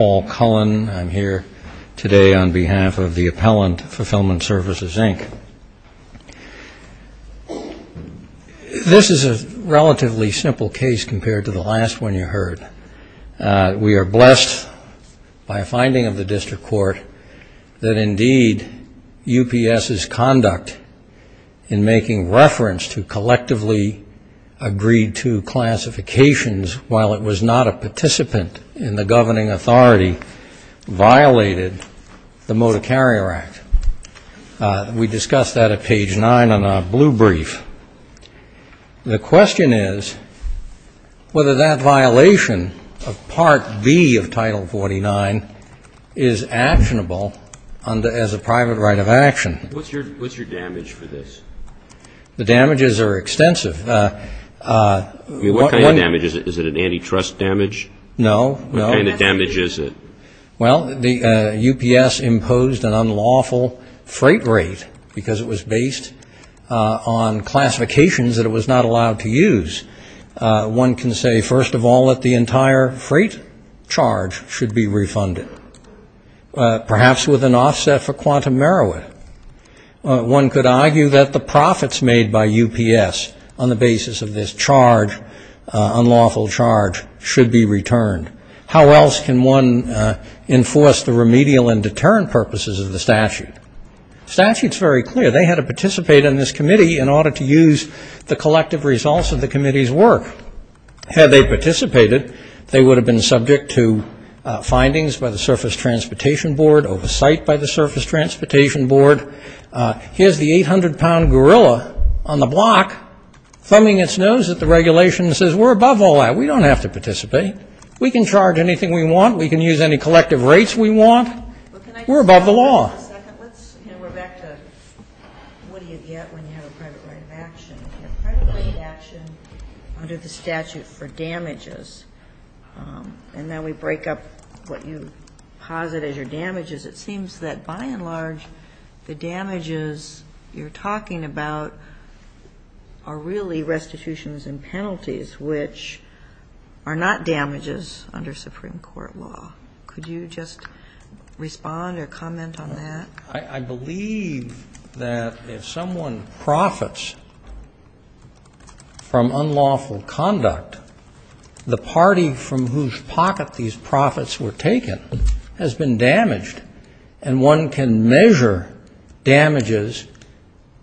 I'm here today on behalf of the Appellant Fulfillment Services, Inc. This is a relatively simple case compared to the last one you heard. We are blessed by a finding of the district court that indeed UPS's conduct in making reference to collectively agreed-to classifications, while it was not a participant in the governing authority, violated the Motor Carrier Act. We discussed that at page 9 on our blue brief. The question is whether that violation of Part B of Title 49 is actionable as a private right of action. What's your damage for this? The damages are extensive. What kind of damage is it? Is it an antitrust damage? No. What kind of damage is it? Well, UPS imposed an unlawful freight rate because it was based on classifications that it was not allowed to use. One can say, first of all, that the entire freight charge should be refunded, perhaps with an offset for quantum merit. One could argue that the profits made by UPS on the basis of this charge, unlawful charge, should be returned. How else can one enforce the remedial and deterrent purposes of the statute? The statute is very clear. They had to participate in this committee in order to use the collective results of the committee's work. Had they participated, they would have been subject to findings by the Surface Transportation Board, oversight by the Surface Transportation Board. Here's the 800-pound gorilla on the block thumbing its nose at the regulation and says, we're above all that. We don't have to participate. We can charge anything we want. We can use any collective rates we want. We're above the law. Can I just ask you for a second? We're back to what do you get when you have a private right of action? You have private right of action under the statute for damages, and then we break up what you posit as your damages. It seems that, by and large, the damages you're talking about are really restitutions and penalties, which are not damages under Supreme Court law. Could you just respond or comment on that? I believe that if someone profits from unlawful conduct, the party from whose pocket these profits were taken has been damaged, and one can measure damages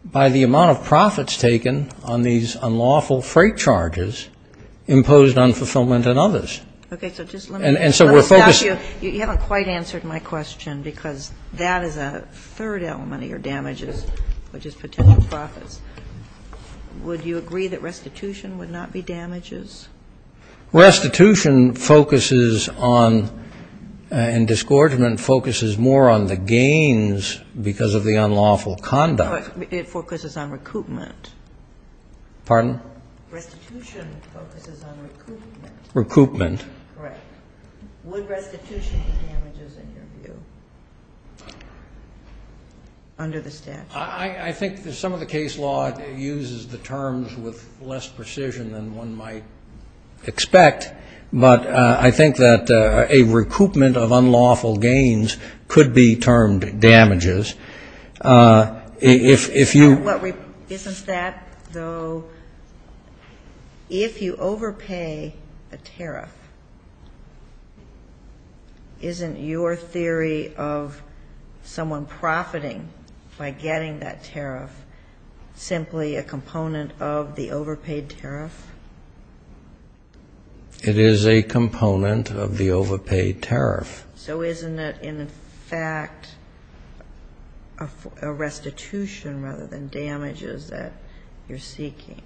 by the amount of profits taken on these unlawful freight charges imposed on fulfillment and others. Okay. So just let me ask you. You haven't quite answered my question, because that is a third element of your damages, which is potential profits. Would you agree that restitution would not be damages? Restitution focuses on and disgorgement focuses more on the gains because of the unlawful conduct. But it focuses on recoupment. Pardon? Restitution focuses on recoupment. Recoupment. Correct. Would restitution be damages, in your view, under the statute? I think some of the case law uses the terms with less precision than one might expect, but I think that a recoupment of unlawful gains could be termed damages. Isn't that, though, if you overpay a tariff, isn't your theory of someone profiting by getting that tariff simply a component of the overpaid tariff? It is a component of the overpaid tariff. So isn't it, in fact, a restitution rather than damages that you're seeking?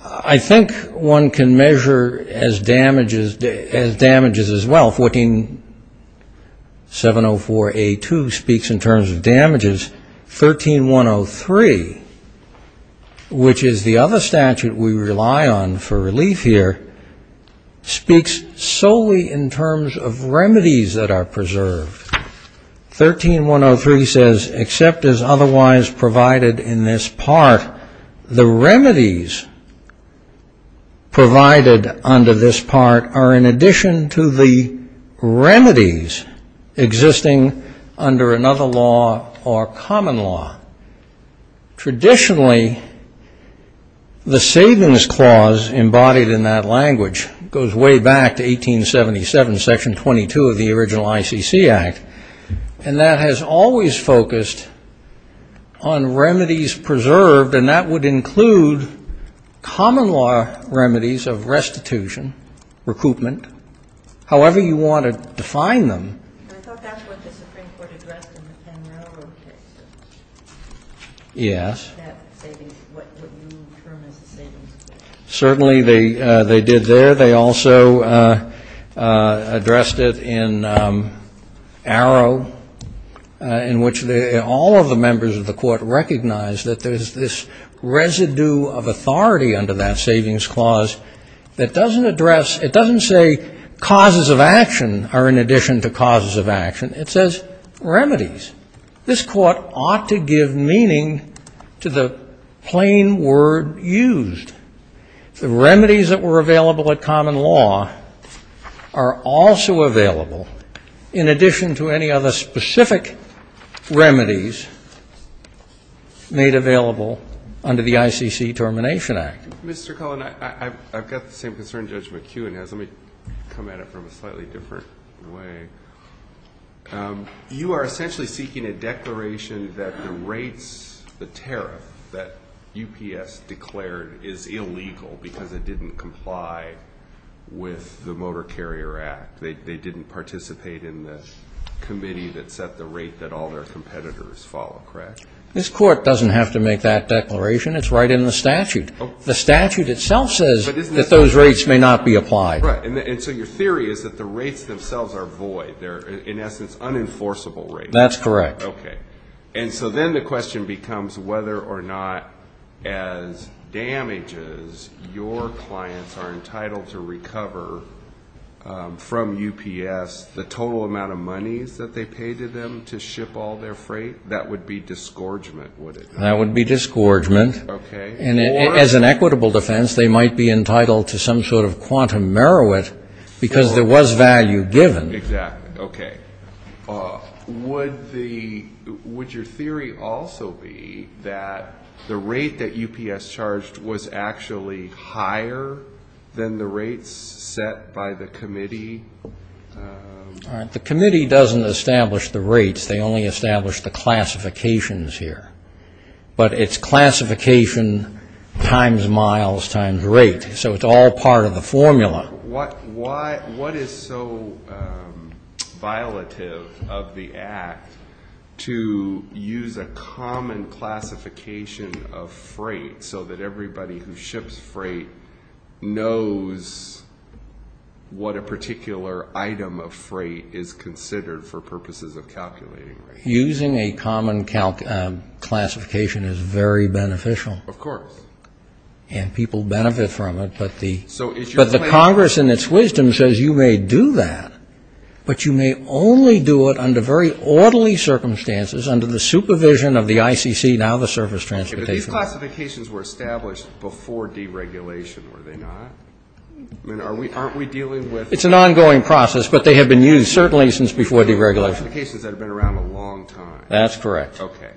I think one can measure as damages as well. 14704A2 speaks in terms of damages. 13103, which is the other statute we rely on for relief here, speaks solely in terms of remedies that are preserved. 13103 says, except as otherwise provided in this part, the remedies provided under this part are in addition to the remedies existing under another law or common law. Traditionally, the savings clause embodied in that language goes way back to 1877, section 22 of the original ICC Act, and that has always focused on remedies preserved, and that would include common law remedies of restitution, recoupment, however you want to define them. I thought that's what the Supreme Court addressed in the Penn Railroad case. Yes. That savings, what you term as a savings clause. Certainly they did there. They also addressed it in Arrow, in which all of the members of the court recognized that there is this residue of authority under that savings clause that doesn't address, it doesn't say causes of action are in addition to causes of action. It says remedies. This Court ought to give meaning to the plain word used. The remedies that were available at common law are also available in addition to any other specific remedies made available under the ICC Termination Act. Mr. Cullen, I've got the same concern Judge McKeown has. Let me come at it from a slightly different way. You are essentially seeking a declaration that the rates, the tariff that UPS declared is illegal because it didn't comply with the Motor Carrier Act. They didn't participate in the committee that set the rate that all their competitors follow, correct? This Court doesn't have to make that declaration. It's right in the statute. The statute itself says that those rates may not be applied. Right. And so your theory is that the rates themselves are void. They're, in essence, unenforceable rates. That's correct. Okay. And so then the question becomes whether or not as damages your clients are entitled to recover from UPS the total amount of monies that they pay to them to ship all their freight. That would be disgorgement, would it not? That would be disgorgement. Okay. As an equitable defense, they might be entitled to some sort of quantum merit because there was value given. Exactly. Okay. Would your theory also be that the rate that UPS charged was actually higher than the rates set by the committee? All right. The committee doesn't establish the rates. They only establish the classifications here. But it's classification times miles times rate. So it's all part of the formula. What is so violative of the act to use a common classification of freight so that everybody who ships freight knows what a particular item of freight is considered for purposes of calculating rates? Using a common classification is very beneficial. Of course. And people benefit from it. But the Congress, in its wisdom, says you may do that, but you may only do it under very orderly circumstances, under the supervision of the ICC, now the Service Transportation. Okay. But these classifications were established before deregulation, were they not? I mean, aren't we dealing with them? It's an ongoing process, but they have been used certainly since before deregulation. Classifications that have been around a long time. That's correct. Okay.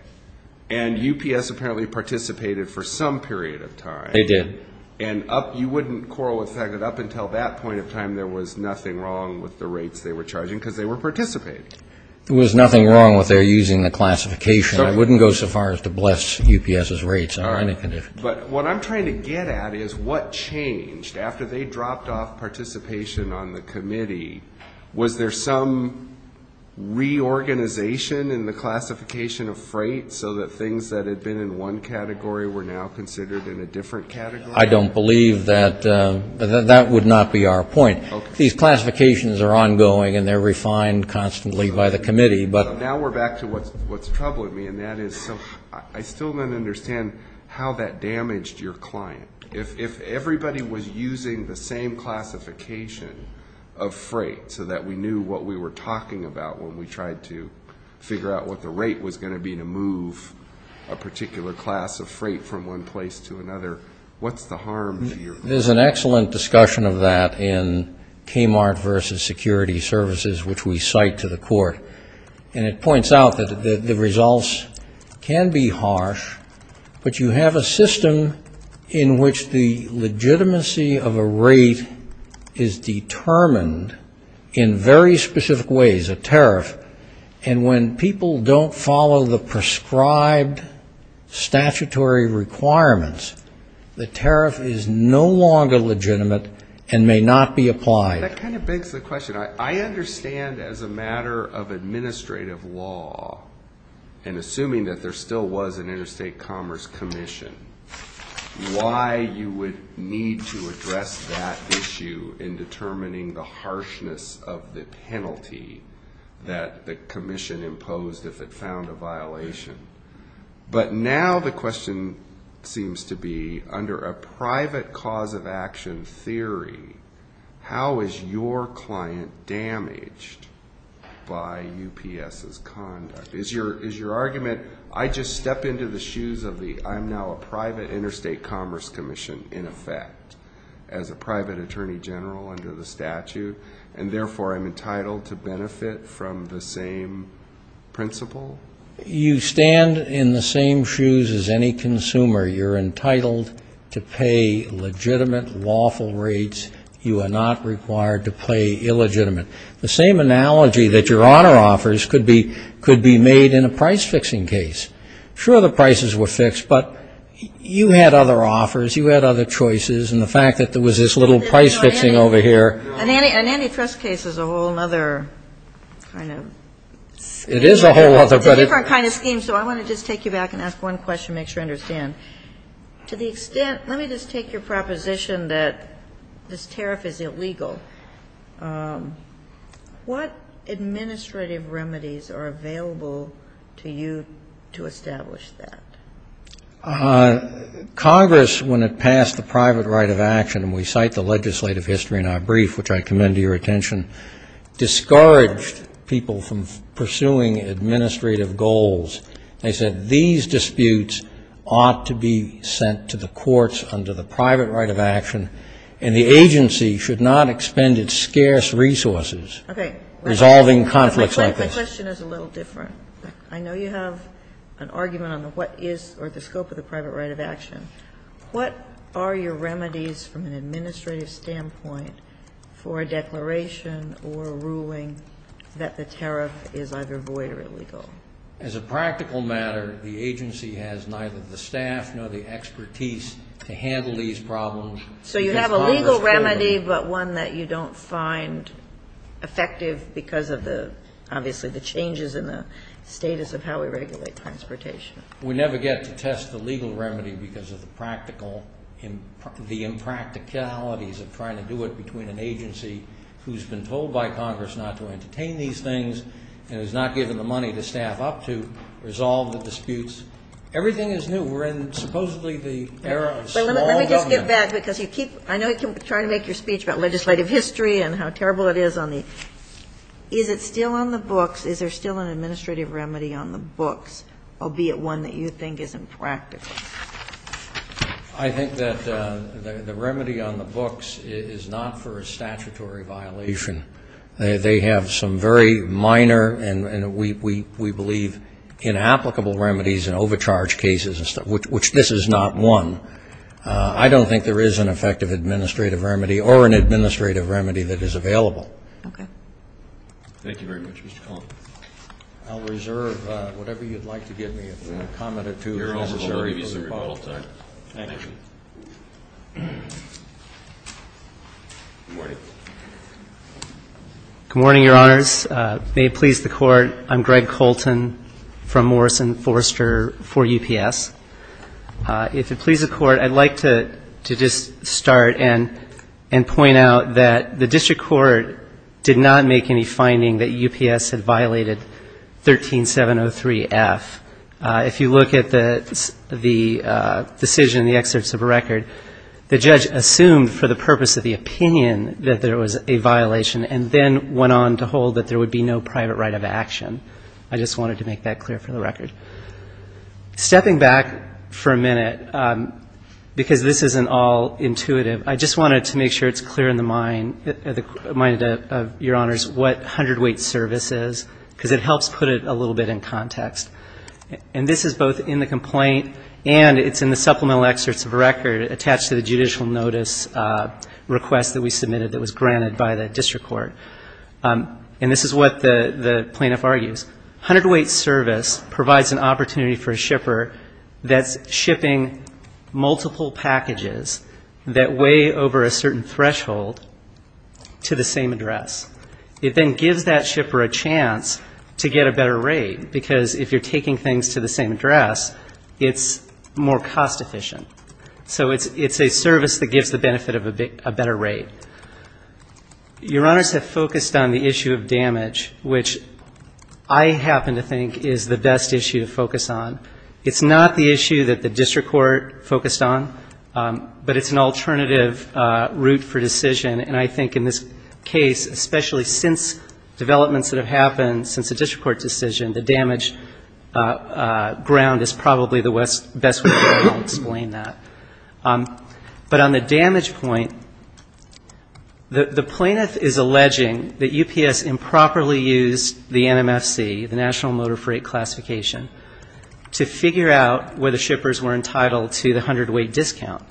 And UPS apparently participated for some period of time. They did. And you wouldn't quarrel with the fact that up until that point of time there was nothing wrong with the rates they were charging because they were participating. There was nothing wrong with their using the classification. I wouldn't go so far as to bless UPS's rates under any condition. But what I'm trying to get at is what changed after they dropped off participation on the committee. Was there some reorganization in the classification of freight so that things that had been in one category were now considered in a different category? I don't believe that. That would not be our point. These classifications are ongoing and they're refined constantly by the committee. Now we're back to what's troubling me, and that is I still don't understand how that damaged your client. If everybody was using the same classification of freight so that we knew what we were talking about when we tried to figure out what the rate was going to be to move a particular class of freight from one place to another, what's the harm to your client? There's an excellent discussion of that in Kmart versus security services, which we cite to the court. And it points out that the results can be harsh, but you have a system in which the legitimacy of a rate is determined in very specific ways, a tariff. And when people don't follow the prescribed statutory requirements, the tariff is no longer legitimate and may not be applied. That kind of begs the question. I understand as a matter of administrative law, and assuming that there still was an interstate commerce commission, why you would need to address that issue in determining the harshness of the penalty that the commission imposed if it found a violation. But now the question seems to be under a private cause of action theory, how is your client damaged by UPS's conduct? Is your argument, I just step into the shoes of the I'm now a private interstate commerce commission in effect as a private attorney general under the statute, and therefore I'm entitled to benefit from the same principle? You stand in the same shoes as any consumer. You're entitled to pay legitimate lawful rates. You are not required to pay illegitimate. The same analogy that your honor offers could be made in a price-fixing case. Sure, the prices were fixed, but you had other offers, you had other choices, and the fact that there was this little price-fixing over here. And antitrust case is a whole other kind of scheme. It is a whole other. It's a different kind of scheme, so I want to just take you back and ask one question to make sure I understand. To the extent, let me just take your proposition that this tariff is illegal. What administrative remedies are available to you to establish that? Congress, when it passed the private right of action, and we cite the legislative history in our brief, which I commend to your attention, discouraged people from pursuing administrative goals. They said these disputes ought to be sent to the courts under the private right of action, and the agency should not expend its scarce resources. Okay. Resolving conflicts like this. My question is a little different. I know you have an argument on what is or the scope of the private right of action. What are your remedies from an administrative standpoint for a declaration or a ruling that the tariff is either void or illegal? As a practical matter, the agency has neither the staff nor the expertise to handle these problems. So you have a legal remedy, but one that you don't find effective because of the, obviously, the changes in the status of how we regulate transportation. We never get to test the legal remedy because of the practical, the impracticalities of trying to do it between an agency who's been told by Congress not to entertain these things and has not given the money to staff up to resolve the disputes. Everything is new. We're in supposedly the era of small government. Let me just get back, because you keep, I know you keep trying to make your speech about legislative history and how terrible it is on the, is it still on the books? Is there still an administrative remedy on the books, albeit one that you think is impractical? I think that the remedy on the books is not for a statutory violation. They have some very minor and we believe inapplicable remedies and overcharge cases, which this is not one. I don't think there is an effective administrative remedy or an administrative remedy that is available. Okay. Thank you very much, Mr. Cone. I'll reserve whatever you'd like to give me, a comment or two, if necessary, for the rebuttal time. Thank you. Good morning. Good morning, Your Honors. May it please the Court, I'm Greg Colton from Morrison Forrester for UPS. If it please the Court, I'd like to just start and point out that the district court did not make any finding that UPS had violated 13703F. If you look at the decision in the excerpts of the record, the judge assumed for the purpose of the opinion that there was a violation and then went on to hold that there would be no private right of action. I just wanted to make that clear for the record. Stepping back for a minute, because this isn't all intuitive, I just wanted to make sure it's clear in the mind of Your Honors what 100-weight service is, because it helps put it a little bit in context. And this is both in the complaint and it's in the supplemental excerpts of the record attached to the judicial notice request that we submitted that was granted by the district court. And this is what the plaintiff argues. 100-weight service provides an opportunity for a shipper that's shipping multiple packages that weigh over a certain threshold to the same address. It then gives that shipper a chance to get a better rate, because if you're taking things to the same address, it's more cost-efficient. So it's a service that gives the benefit of a better rate. Your Honors have focused on the issue of damage, which I happen to think is the best issue to focus on. It's not the issue that the district court focused on, but it's an alternative route for decision. And I think in this case, especially since developments that have happened since the district court decision, the damage ground is probably the best way to explain that. But on the damage point, the plaintiff is alleging that UPS improperly used the NMFC, the National Motor Freight Classification, to figure out whether shippers were entitled to the 100-weight discount.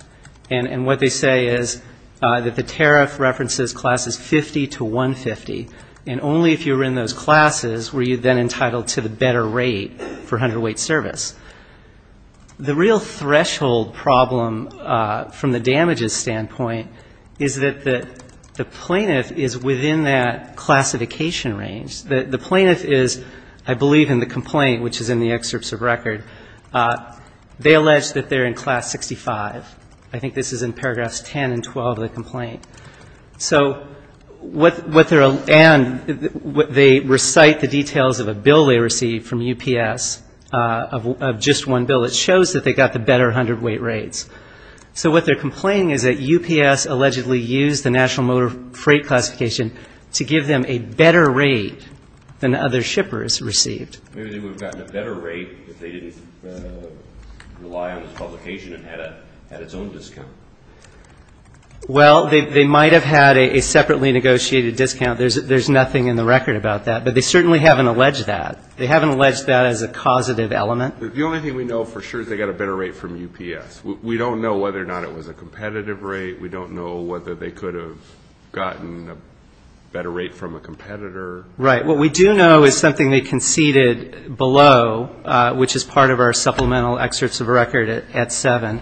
And what they say is that the tariff references classes 50 to 150, and only if you were in those classes were you then entitled to the better rate for 100-weight service. The real threshold problem from the damages standpoint is that the plaintiff is within that classification range. The plaintiff is, I believe, in the complaint, which is in the excerpts of record. They allege that they're in class 65. I think this is in paragraphs 10 and 12 of the complaint. And they recite the details of a bill they received from UPS of just one bill. It shows that they got the better 100-weight rates. So what they're complaining is that UPS allegedly used the National Motor Freight Classification to give them a better rate than other shippers received. Maybe they would have gotten a better rate if they didn't rely on the publication and had its own discount. Well, they might have had a separately negotiated discount. There's nothing in the record about that. But they certainly haven't alleged that. They haven't alleged that as a causative element. The only thing we know for sure is they got a better rate from UPS. We don't know whether or not it was a competitive rate. We don't know whether they could have gotten a better rate from a competitor. Right. What we do know is something they conceded below, which is part of our supplemental excerpts of record at 7,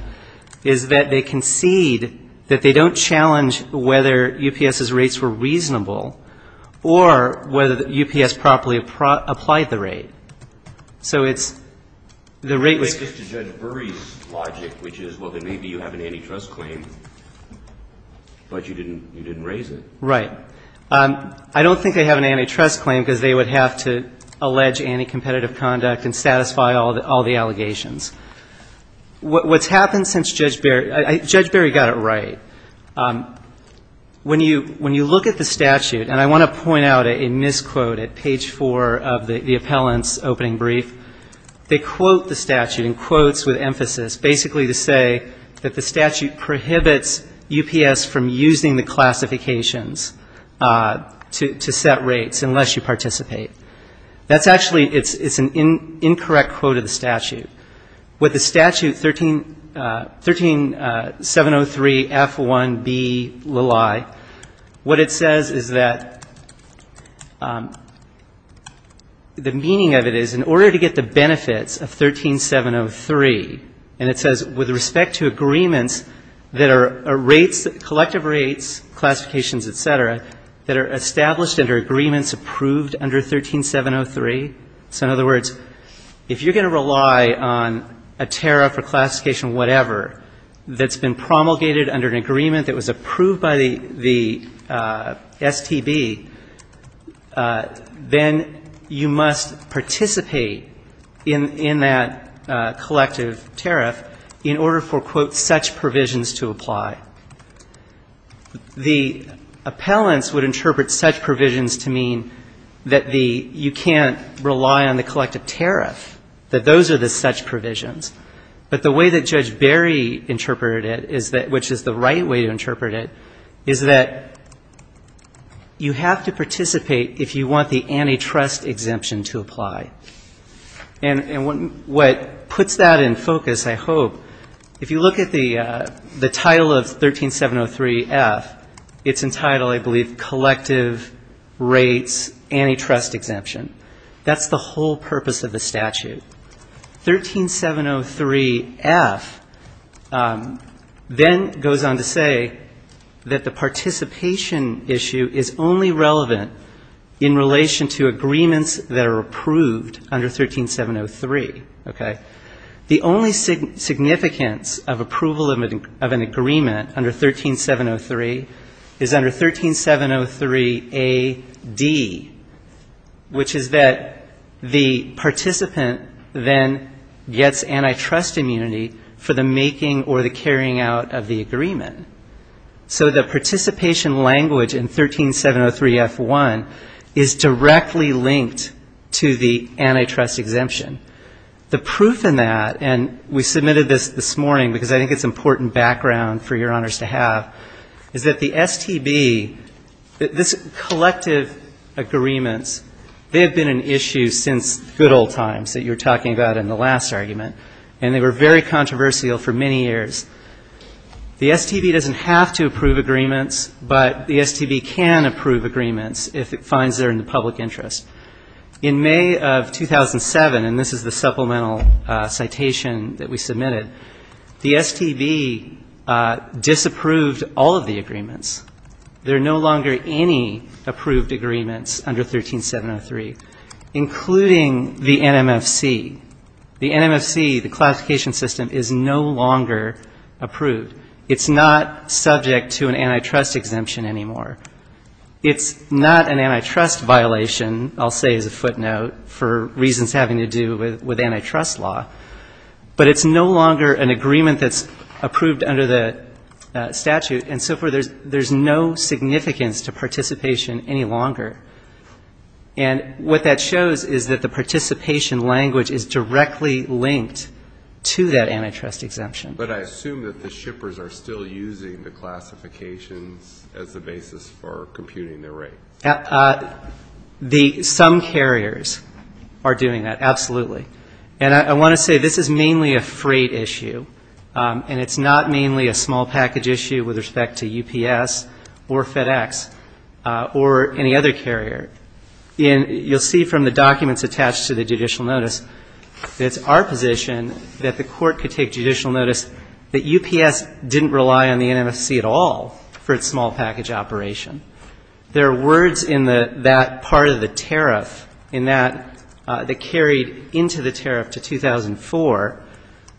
is that they concede that they don't challenge whether UPS's rates were reasonable or whether UPS properly applied the rate. So it's the rate was ---- So UPS doesn't have any trust claim because they would have to allege anti-competitive conduct and satisfy all the allegations. What's happened since Judge Barry ---- Judge Barry got it right. When you look at the statute, and I want to point out a misquote at page 4 of the appellant's opening brief, they quote the statute in quotes with emphasis, basically to say that the statute prohibits UPS from using the classifications to set rates. That's actually an incorrect quote of the statute. With the statute 13703F1B, what it says is that the meaning of it is in order to get the benefits of 13703, and it says with respect to agreements that are rates, collective rates, classifications, et cetera, that are established under agreements approved under 13703. So in other words, if you're going to rely on a tariff or classification whatever that's been promulgated under an agreement that was approved by the STB, then you must participate in that collective tariff in order for, quote, such provisions to apply. The appellants would interpret such provisions to mean that the you can't rely on the collective tariff, that those are the such provisions. But the way that Judge Barry interpreted it, which is the right way to interpret it, is that you have to participate if you want the antitrust exemption to apply. And what puts that in focus, I hope, if you look at the title of 13703F, it's entitled, I believe, collective rates antitrust exemption. That's the whole purpose of the statute. 13703F then goes on to say that the participation issue is only relevant in relation to agreements that are approved under 13703. Okay? The only significance of approval of an agreement under 13703 is under 13703AD, which is that the participant then gets antitrust immunity for the making or the carrying out of the agreement. So the participation language in 13703F1 is directly linked to the antitrust exemption. The proof in that, and we submitted this this morning because I think it's important background for your honors to have, is that the STB, this collective agreements, they have been an issue since good old times that you were talking about in the last argument, and they were very controversial for many years. The STB doesn't have to approve agreements, but the STB can approve agreements if it finds they're in the public interest. In May of 2007, and this is the supplemental citation that we submitted, the STB disapproved all of the agreements. There are no longer any approved agreements under 13703, including the NMFC. The NMFC, the classification system, is no longer approved. It's not subject to an antitrust exemption anymore. It's not an antitrust violation, I'll say as a footnote, for reasons having to do with antitrust law, but it's no longer an agreement that's approved under the statute, and so forth. There's no significance to participation any longer. And what that shows is that the participation language is directly linked to that antitrust exemption. But I assume that the shippers are still using the classifications as a basis for computing their rate. Some carriers are doing that, absolutely. And I want to say this is mainly a freight issue, and it's not mainly a small package issue with respect to UPS or FedEx or any other carrier. You'll see from the documents attached to the judicial notice that it's our position that the court could take judicial notice that UPS didn't rely on the NMFC at all for its small package operation. There are words in that part of the tariff, in that, that carried into the tariff to 2004,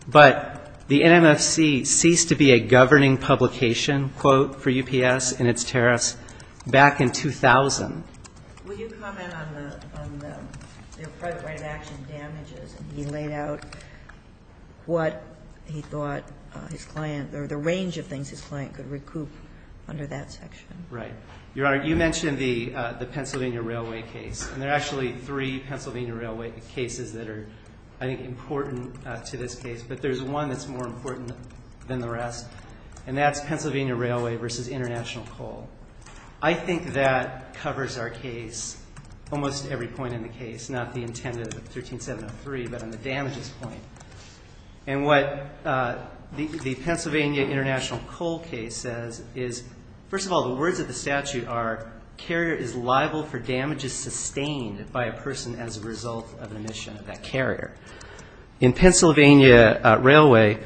but the NMFC ceased to be a governing publication, quote, for UPS and its tariffs back in 2000. Will you comment on the private right of action damages, and he laid out what he thought his client, or the range of things his client could recoup under that section. Right. Your Honor, you mentioned the Pennsylvania Railway case, and there are actually three Pennsylvania Railway cases that are, I think, important to this case. But there's one that's more important than the rest, and that's Pennsylvania Railway v. International Coal. I think that covers our case, almost every point in the case, not the intended 13703, but on the damages point. And what the Pennsylvania International Coal case says is, first of all, the words of the statute are, carrier is liable for damages sustained by a person as a result of an emission of that carrier. In Pennsylvania Railway,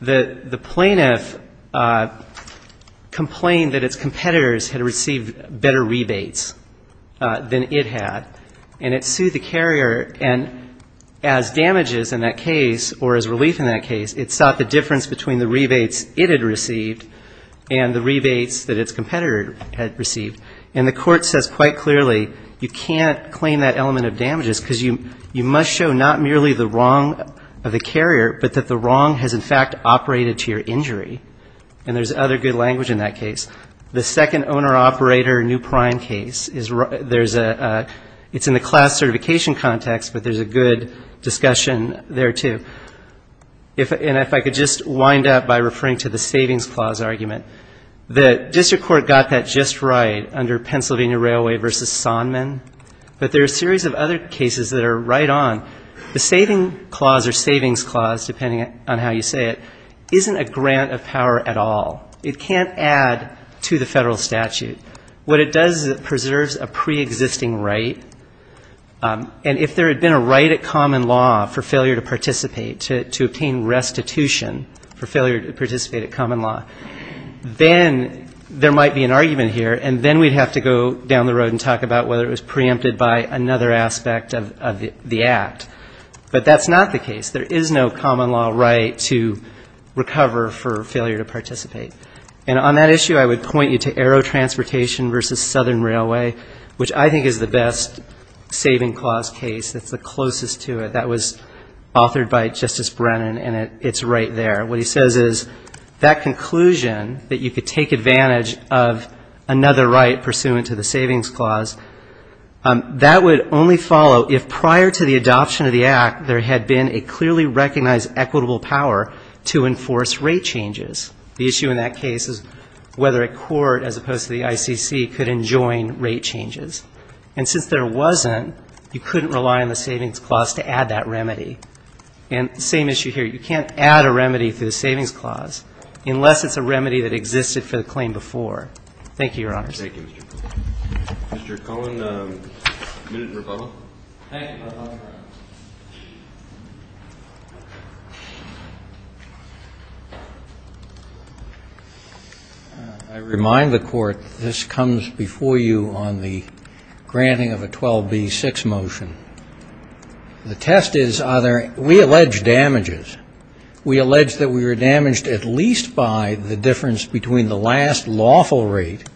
the plaintiff complained that its competitors had received better rebates than it had, and it sued the carrier, and as damages in that case, or as relief in that case, it sought the difference between the rebates it had received and the rebates that its competitor had received. And the court says quite clearly, you can't claim that element of damages, because you must show not merely the wrong of the carrier, but that the wrong has, in fact, operated to your injury. The second owner-operator new prime case, it's in the class certification context, but there's a good discussion there, too. And if I could just wind up by referring to the savings clause argument. The district court got that just right under Pennsylvania Railway v. Sondman, but there are a series of other cases that are right on. The savings clause, depending on how you say it, isn't a grant of power at all. It can't add to the federal statute. What it does is it preserves a preexisting right, and if there had been a right at common law for failure to participate, to obtain restitution for failure to participate at common law, then there might be an argument here, and then we'd have to go down the road and talk about whether it was preempted by another aspect of the act. But that's not the case. There is no common law right to recover for failure to participate. And on that issue, I would point you to Aero Transportation v. Southern Railway, which I think is the best savings clause case. That's the closest to it. That was authored by Justice Brennan, and it's right there. What he says is that conclusion that you could take advantage of another right pursuant to the savings clause, that would only follow if prior to the adoption of the act there had been a clearly recognized equitable power to enforce rate changes. The issue in that case is whether a court, as opposed to the ICC, could enjoin rate changes. And since there wasn't, you couldn't rely on the savings clause to add that remedy. And the same issue here. You can't add a remedy to the savings clause unless it's a remedy that existed for the claim before. Thank you, Your Honors. Thank you, Mr. Cohen. Mr. Cohen, a minute in rebuttal. Thank you. I remind the Court that this comes before you on the granting of a 12B6 motion. The test is, are there, we allege damages. We allege that we were damaged at least by the difference between the last lawful rate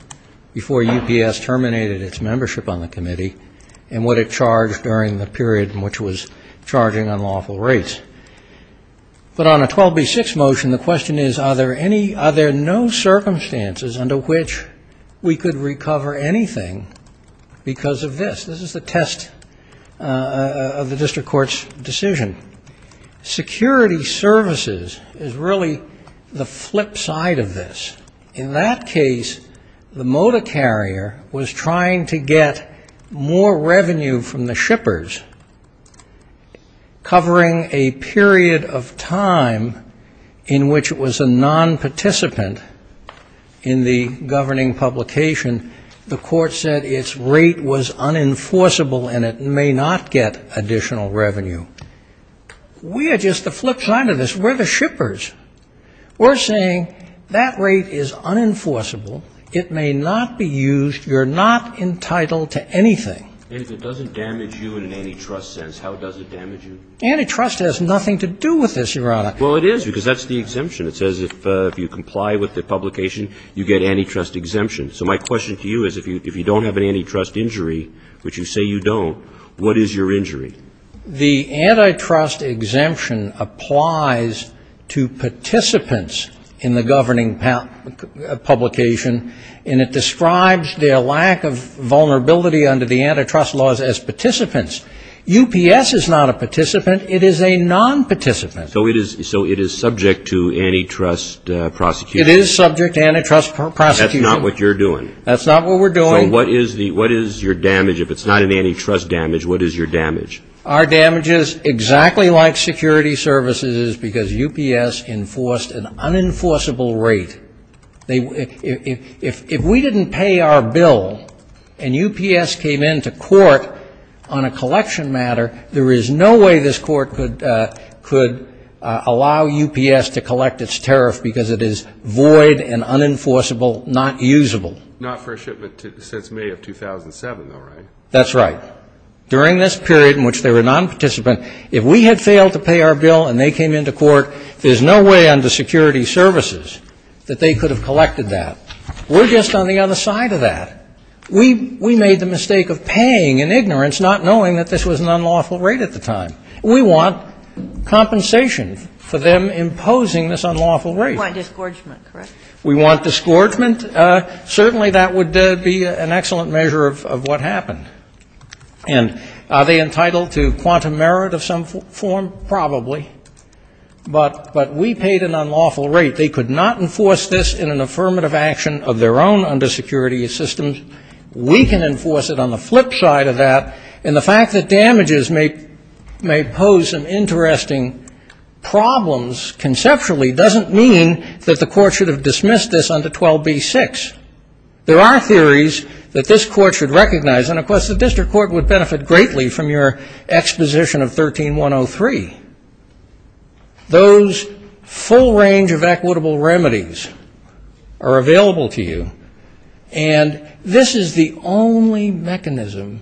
before UPS terminated its membership on the committee, and what it charged during the period in which it was charging unlawful rates. But on a 12B6 motion, the question is, are there any, are there no circumstances under which we could recover anything because of this? This is the test of the district court's decision. Security services is really the flip side of this. In that case, the moda carrier was trying to get more revenue from the district court. And the shippers, covering a period of time in which it was a nonparticipant in the governing publication, the court said its rate was unenforceable, and it may not get additional revenue. We are just the flip side of this. We're the shippers. We're saying that rate is unenforceable, it may not be used, you're not entitled to anything. And if it doesn't damage you in an antitrust sense, how does it damage you? Antitrust has nothing to do with this, Your Honor. Well, it is, because that's the exemption. It says if you comply with the publication, you get antitrust exemption. So my question to you is, if you don't have an antitrust injury, which you say you don't, what is your injury? The antitrust exemption applies to participants in the governing publication, and it describes their lack of vulnerability under the antitrust laws as participants. UPS is not a participant. It is a nonparticipant. So it is subject to antitrust prosecution. It is subject to antitrust prosecution. That's not what you're doing. That's not what we're doing. So what is your damage, if it's not an antitrust damage, what is your damage? Our damage is exactly like security services, because UPS enforced an unenforceable rate. If we didn't pay our bill and UPS came into court on a collection matter, there is no way this court could allow UPS to collect its tariff, because it is void and unenforceable, not usable. Not for a shipment since May of 2007, though, right? That's right. During this period in which they were nonparticipant, if we had failed to pay our bill and they came into court, there is no way under security services that they could have collected that. We're just on the other side of that. We made the mistake of paying in ignorance, not knowing that this was an unlawful rate at the time. We want compensation for them imposing this unlawful rate. We want disgorgement, correct? We want disgorgement. Certainly that would be an excellent measure of what happened. And are they entitled to quantum merit of some form? Probably. But we paid an unlawful rate. They could not enforce this in an affirmative action of their own under security systems. We can enforce it on the flip side of that. And the fact that damages may pose some interesting problems conceptually doesn't mean that the court should have dismissed this under 12b-6. There are theories that this court should recognize. And, of course, the district court would benefit greatly from your exposition of 13-103. Those full range of equitable remedies are available to you. And this is the only mechanism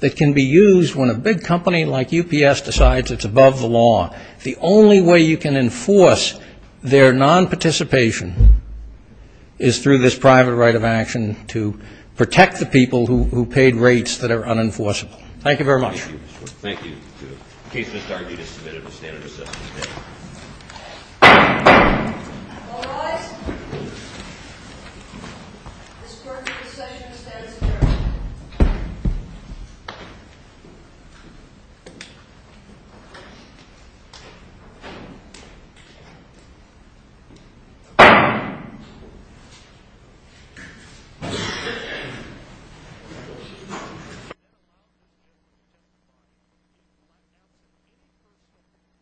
that can be used when a big company like UPS decides it's above the law. The only way you can enforce their nonparticipation is through this private right of action to protect the people who paid what they paid. And this is the only way you can enforce their nonparticipation. And this is the only way you can enforce their nonparticipation. Thank you very much. Thank you.